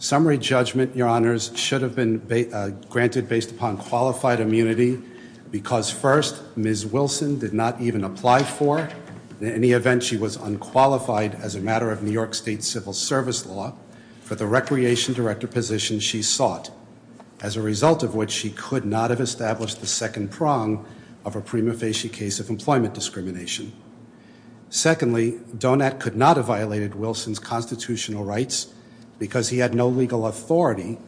Summary judgment, Your Honors, should have been granted based upon qualified immunity because, first, Ms. Wilson did not even apply for, in any event, she was unqualified as a matter of New York State civil service law for the recreation director position she sought, as a result of which she could not have established the second prong of a prima facie case of employment discrimination. Secondly, Donat could not have violated Wilson's constitutional rights because he had no legal authority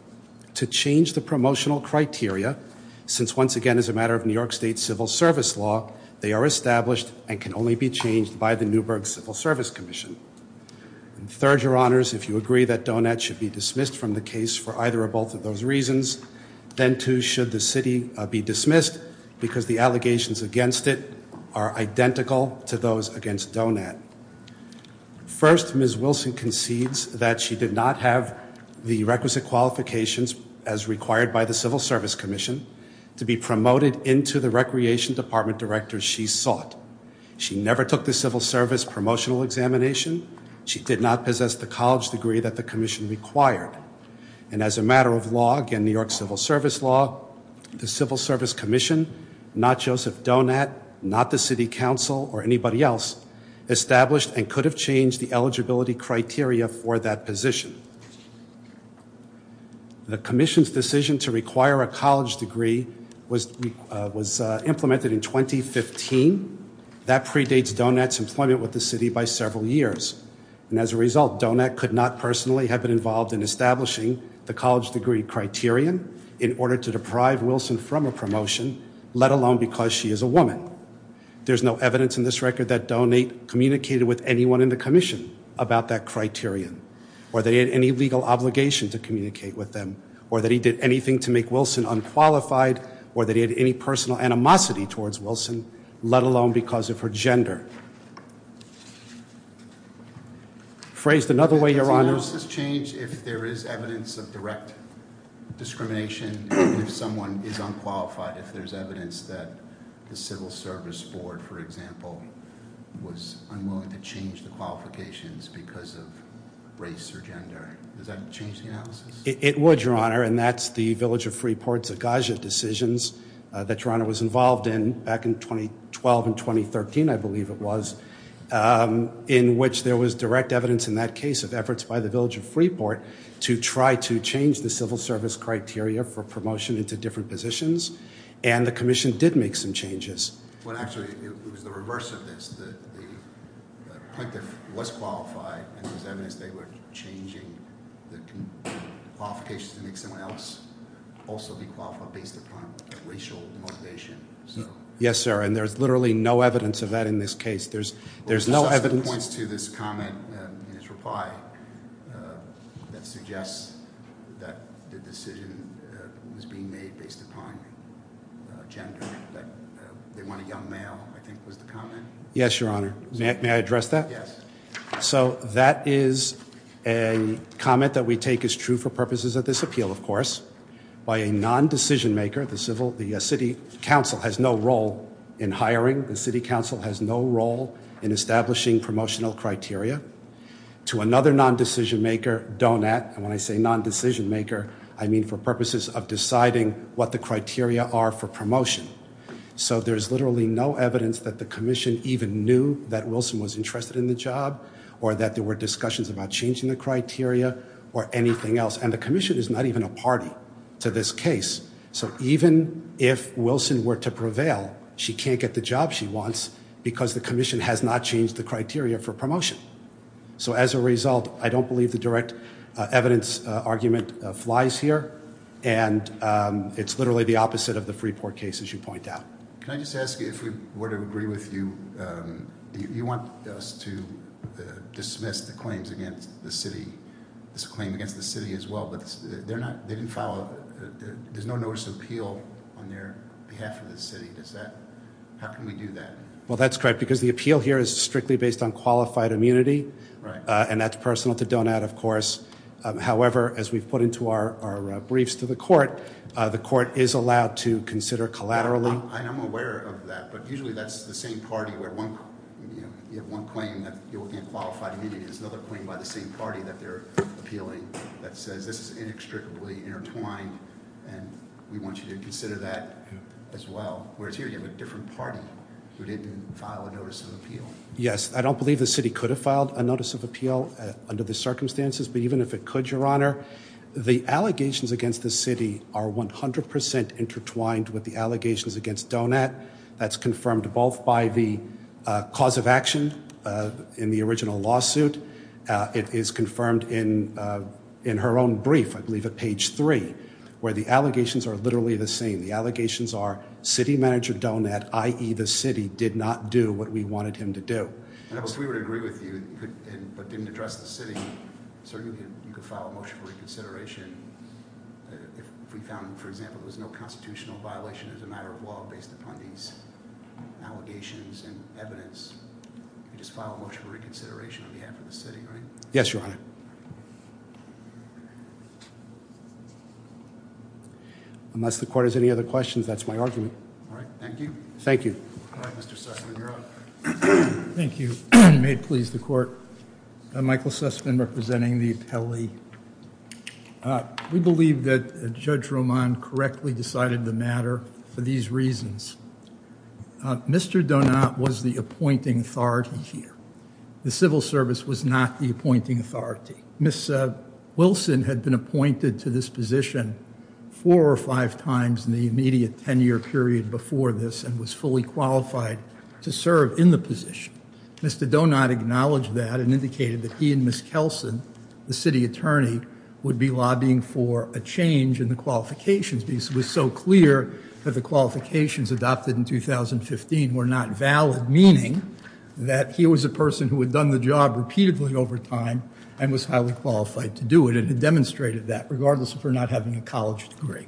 to change the promotional criteria since, once again, as a matter of New York State civil service law, they are established and can only be changed by the Newburgh Civil Service Commission. Third, Your Honors, if you agree that Donat should be dismissed from the case for either or both of those reasons, then too should the city be dismissed because the allegations against it are identical to those against Donat. First, Ms. Wilson concedes that she did not have the requisite qualifications as required by the civil service commission to be promoted into the recreation department director she sought. She never took the civil service promotional examination. She did not possess the college degree that the commission required. And as a matter of law, again, New York civil service law, the civil service commission, not Joseph Donat, not the city council or anybody else, established and could have changed the eligibility criteria for that position. The commission's decision to require a college degree was implemented in 2015. That predates Donat's employment with the city by several years. And as a result, Donat could not personally have been involved in establishing the college degree criterion in order to deprive Wilson from a promotion, let alone because she is a woman. There's no evidence in this record that Donat communicated with anyone in the commission about that criterion. Or that he had any legal obligation to communicate with them, or that he did anything to make Wilson unqualified, or that he had any personal animosity towards Wilson, let alone because of her gender. Phrased another way, Your Honor. Does the analysis change if there is evidence of direct discrimination, if someone is unqualified, if there's evidence that the civil service board, for example, was unwilling to change the qualifications because of race or gender? Does that change the analysis? It would, Your Honor, and that's the Village of Freeport's agagia decisions that Your Honor was involved in back in 2012 and 2013, I believe it was, in which there was direct evidence in that case of efforts by the Village of Freeport to try to change the civil service criteria for promotion into different positions. And the commission did make some changes. Well, actually, it was the reverse of this. The plaintiff was qualified, and there was evidence they were changing the qualifications to make someone else also be qualified based upon racial motivation. Yes, sir, and there's literally no evidence of that in this case. There's no evidence... Wilson points to this comment in his reply that suggests that the decision was being made based upon gender, that they want a young male, I think was the comment. Yes, Your Honor. May I address that? Yes. So that is a comment that we take as true for purposes of this appeal, of course, by a non-decision maker, the city council has no role in hiring, the city council has no role in establishing promotional criteria, to another non-decision maker, Donat, and when I say non-decision maker, I mean for purposes of deciding what the criteria are for promotion. So there's literally no evidence that the commission even knew that Wilson was interested in the job or that there were discussions about changing the criteria or anything else, and the commission is not even a party to this case. So even if Wilson were to prevail, she can't get the job she wants because the commission has not changed the This argument flies here, and it's literally the opposite of the Freeport case, as you point out. Can I just ask you, if we were to agree with you, you want us to dismiss the claims against the city, this claim against the city as well, but they're not, they didn't follow, there's no notice of appeal on their behalf of the city, does that, how can we do that? Well, that's correct, because the appeal here is strictly based on qualified immunity, and that's personal to Donat, of course. However, as we've put into our briefs to the court, the court is allowed to consider collaterally. I'm aware of that, but usually that's the same party where one, you know, you have one claim that you're looking at qualified immunity, there's another claim by the same party that they're appealing that says this is inextricably intertwined, and we want you to consider that as well, whereas here you have a different party who didn't file a notice of appeal. Yes, I don't believe the city could have filed a notice of appeal under the circumstances, but even if it could, Your Honor, the allegations against the city are 100% intertwined with the allegations against Donat, that's confirmed both by the cause of action in the original lawsuit, it is confirmed in her own brief, I believe at page three, where the allegations are literally the same, the allegations are city manager Donat, i.e. the city, did not do what we wanted him to do. And if we would agree with you, but didn't address the city, certainly you could file a motion for reconsideration if we found, for example, there was no constitutional violation as a matter of law based upon these allegations and evidence, you could just file a motion for reconsideration on behalf of the city, right? Yes, Your Honor. Unless the court has any other questions, that's my argument. All right, thank you. Thank you. All right, Mr. Sussman, you're up. Thank you. May it please the court. Michael Sussman representing the appellee. We believe that Judge Roman correctly decided the matter for these reasons. Mr. Donat was the appointing authority here. The civil service was not the appointing authority. Ms. Wilson had been appointed to this position four or five times in the immediate 10-year period before this and was fully qualified to serve in the position. Mr. Donat acknowledged that and indicated that he and Ms. Kelsen, the city attorney, would be lobbying for a change in the qualifications because it was so clear that the qualifications adopted in 2015 were not valid, meaning that he was a person who had done the job repeatedly over time and was highly qualified to do it and had demonstrated that, regardless of her not having a college degree.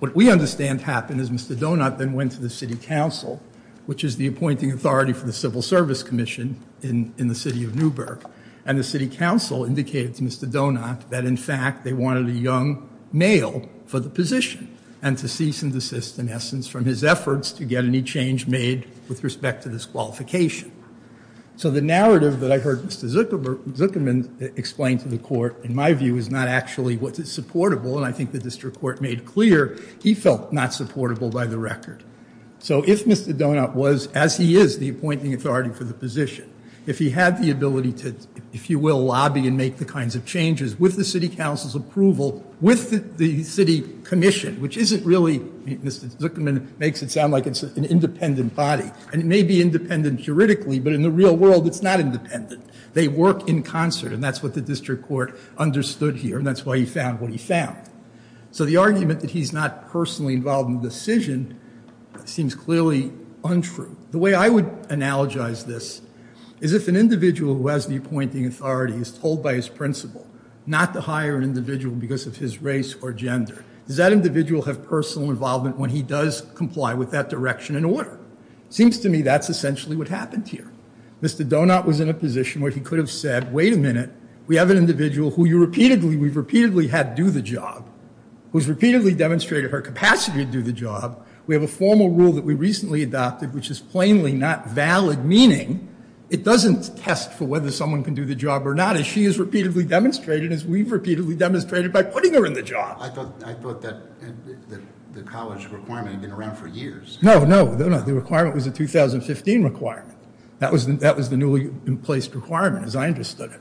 What we understand happened is Mr. Donat then went to the city council, which is the appointing authority for the civil service commission in the city of Newburgh, and the city council indicated to Mr. Donat that, in fact, they wanted a young male for the position and to cease and desist, in essence, from his efforts to get any change made with respect to this qualification. So the narrative that I heard Mr. Zuckerman explain to the court, in my view, is not actually what is supportable, and I think the district court made clear he felt not supportable by the record. So if Mr. Donat was, as he is the appointing authority for the position, if he had the ability to, if you will, lobby and make the kinds of changes with the city council's approval, with the city commission, which isn't really, Mr. Zuckerman makes it sound like it's an independent body, and it may be independent juridically, but in the real world it's not independent. They work in concert, and that's what the district court understood here, and that's why he found what he found. So the argument that he's not personally involved in the decision seems clearly untrue. The way I would analogize this is if an individual who has the appointing authority is told by his principal not to hire an individual because of his race or gender, does that individual have personal involvement when he does comply with that direction and order? Seems to me that's essentially what happened here. Mr. Donat was in a position where he could have said, wait a minute, we have an individual who you repeatedly, we've repeatedly had do the job, who's repeatedly demonstrated her capacity to do the job, we have a formal rule that we recently adopted which is plainly not valid, meaning it doesn't test for whether someone can do the job or not, as she has repeatedly demonstrated, as we've repeatedly demonstrated by putting her in the job. I thought that the college requirement had been around for years. No, no, the requirement was a 2015 requirement. That was the newly placed requirement as I understood it.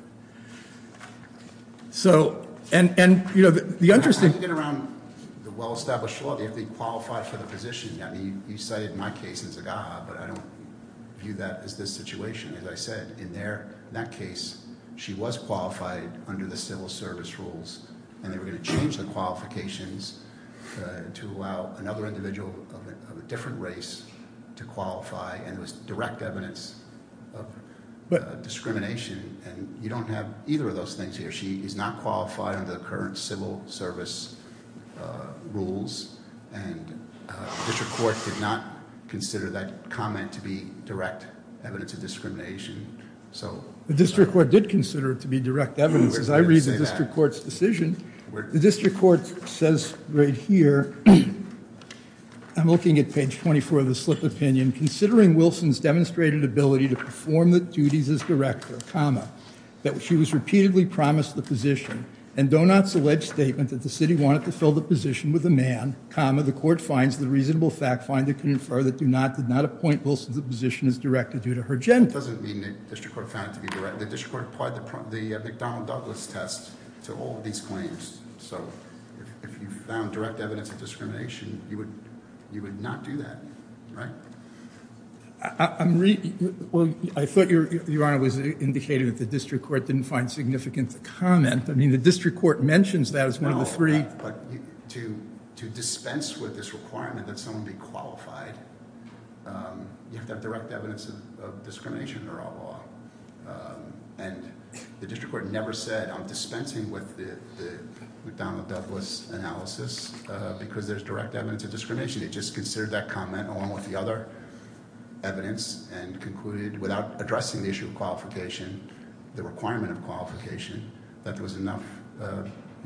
So, and, you know, the interesting... I'm thinking around the well-established law. They have to be qualified for the position. You cited my case in Zagaha, but I don't view that as this situation. As I said, in that case, she was qualified under the civil service rules and they were going to change the qualifications to allow another individual of a different race to qualify, and it was direct evidence of discrimination. And you don't have either of those things here. She is not qualified under the current civil service rules, and the district court did not consider that comment to be direct evidence of discrimination. The district court did consider it to be direct evidence. As I read the district court's decision, the district court says right here, I'm looking at page 24 of the slip opinion, considering Wilson's demonstrated ability to perform the duties as director, comma, that she was repeatedly promised the position, and Donat's alleged statement that the city wanted to fill the position with a man, comma, the court finds the reasonable fact finder can infer that Donat did not appoint Wilson's position as director due to her gender. It doesn't mean the district court found it to be direct. The district court applied the McDonald-Douglas test to all of these claims. So if you found direct evidence of discrimination, you would not do that, right? I'm reading... well, I thought Your Honor was indicating that the district court didn't find significant comment. I mean, the district court mentions that as one of the three... Well, but to dispense with this requirement that someone be qualified, you have to have direct evidence of discrimination under our law, and the district court never said I'm McDonald-Douglas analysis because there's direct evidence of discrimination. It just considered that comment along with the other evidence and concluded, without addressing the issue of qualification, the requirement of qualification, that there was enough,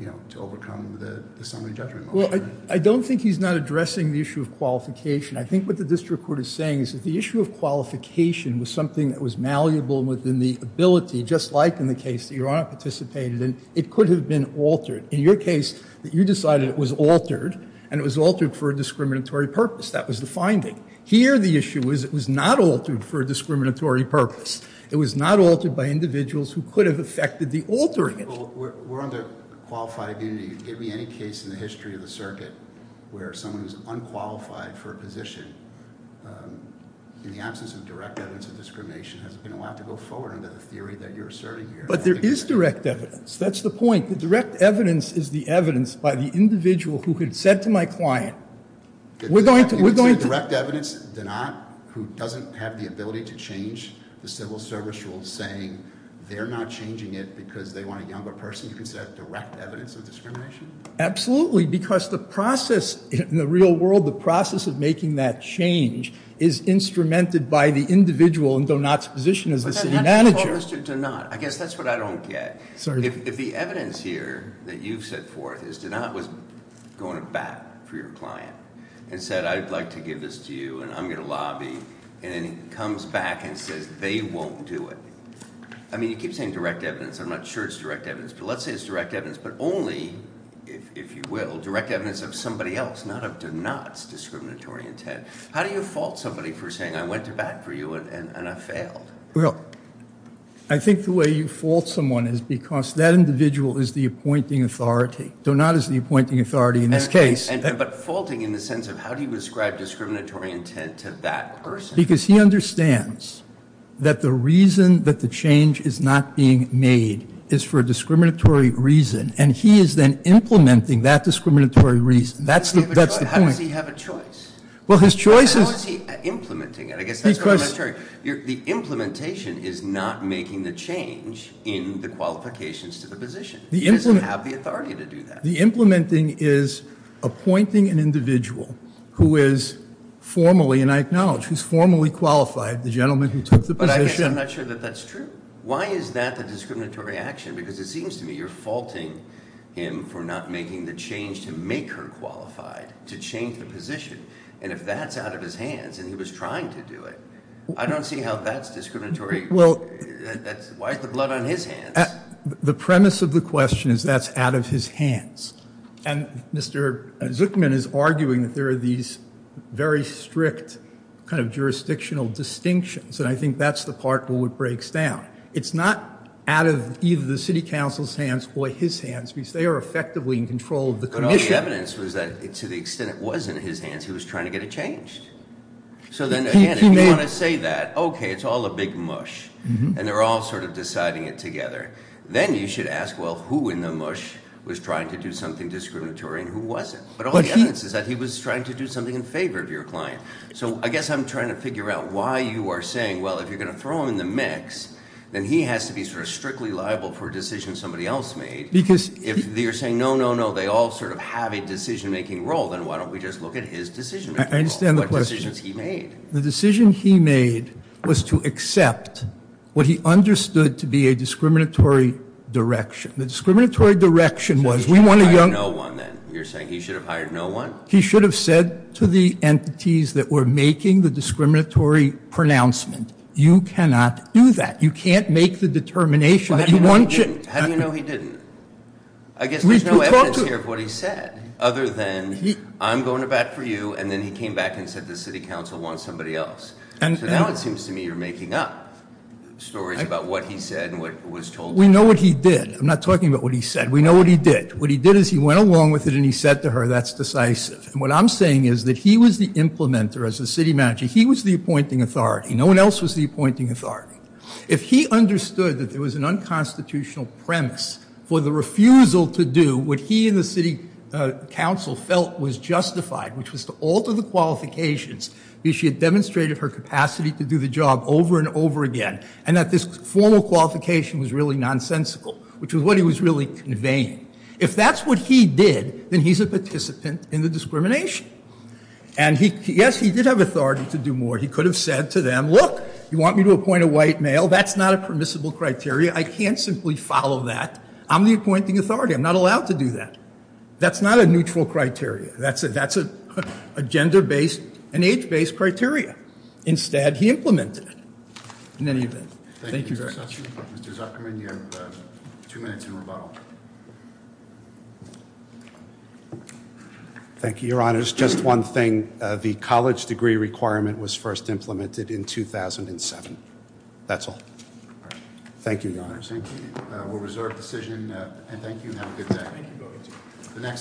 you know, to overcome the summary judgment motion. Well, I don't think he's not addressing the issue of qualification. I think what the district court is saying is that the issue of qualification was something that was malleable within the ability, just like in the case that Your Honor participated in. It could have been altered. In your case, you decided it was altered, and it was altered for a discriminatory purpose. That was the finding. Here, the issue is it was not altered for a discriminatory purpose. It was not altered by individuals who could have affected the altering it. Well, we're under qualified immunity. Give me any case in the history of the circuit where someone is unqualified for a position in the absence of direct evidence of discrimination. It's going to have to go forward under the theory that you're asserting here. But there is direct evidence. That's the point. The direct evidence is the evidence by the individual who had said to my client, we're going to- You're saying direct evidence, Donat, who doesn't have the ability to change the civil service rules, saying they're not changing it because they want a younger person, you consider that direct evidence of discrimination? Absolutely, because the process in the real world, the process of making that change is instrumented by the individual in Donat's position as the city manager. Mr. Donat, I guess that's what I don't get. If the evidence here that you've set forth is Donat was going to bat for your client and said, I'd like to give this to you and I'm going to lobby, and then he comes back and says they won't do it. I mean, you keep saying direct evidence. I'm not sure it's direct evidence. But let's say it's direct evidence, but only, if you will, direct evidence of somebody else, not of Donat's discriminatory intent. How do you fault somebody for saying I went to bat for you and I failed? Well, I think the way you fault someone is because that individual is the appointing authority. Donat is the appointing authority in this case. But faulting in the sense of how do you describe discriminatory intent to that person? Because he understands that the reason that the change is not being made is for a discriminatory reason, and he is then implementing that discriminatory reason. That's the point. How does he have a choice? Well, his choice is... How is he implementing it? The implementation is not making the change in the qualifications to the position. He doesn't have the authority to do that. The implementing is appointing an individual who is formally, and I acknowledge, who is formally qualified, the gentleman who took the position. But I guess I'm not sure that that's true. Why is that the discriminatory action? Because it seems to me you're faulting him for not making the change to make her qualified, to change the position. And if that's out of his hands, and he was trying to do it, I don't see how that's discriminatory. Why is the blood on his hands? The premise of the question is that's out of his hands. And Mr. Zuckman is arguing that there are these very strict kind of jurisdictional distinctions, and I think that's the part where it breaks down. It's not out of either the city council's hands or his hands, because they are effectively in control of the commission. The evidence was that to the extent it was in his hands, he was trying to get it changed. So then, again, if you want to say that, okay, it's all a big mush, and they're all sort of deciding it together, then you should ask, well, who in the mush was trying to do something discriminatory and who wasn't? But all the evidence is that he was trying to do something in favor of your client. So I guess I'm trying to figure out why you are saying, well, if you're going to throw him in the mix, then he has to be sort of strictly liable for a decision somebody else made. Because if you're saying, no, no, no, they all sort of have a decision-making role, then why don't we just look at his decision-making role? I understand the question. What decisions he made. The decision he made was to accept what he understood to be a discriminatory direction. The discriminatory direction was we want a young... He should have hired no one, then. You're saying he should have hired no one? He should have said to the entities that were making the discriminatory pronouncement, you cannot do that. You can't make the determination that you want... How do you know he didn't? I guess there's no evidence here of what he said, other than I'm going to bat for you, and then he came back and said the city council wants somebody else. So now it seems to me you're making up stories about what he said and what was told to him. We know what he did. I'm not talking about what he said. We know what he did. What he did is he went along with it and he said to her, that's decisive. And what I'm saying is that he was the implementer as a city manager. He was the appointing authority. No one else was the appointing authority. If he understood that there was an unconstitutional premise for the refusal to do what he and the city council felt was justified, which was to alter the qualifications, because she had demonstrated her capacity to do the job over and over again, and that this formal qualification was really nonsensical, which is what he was really conveying. If that's what he did, then he's a participant in the discrimination. And, yes, he did have authority to do more. He could have said to them, look, you want me to appoint a white male? That's not a permissible criteria. I can't simply follow that. I'm the appointing authority. I'm not allowed to do that. That's not a neutral criteria. That's a gender-based and age-based criteria. Instead, he implemented it in any event. Thank you very much. Mr. Zuckerman, you have two minutes in rebuttal. Thank you, Your Honors. Just one thing. The college degree requirement was first implemented in 2007. That's all. Thank you, Your Honors. Thank you. We'll reserve decision. And thank you and have a good day. Thank you. You're welcome. The next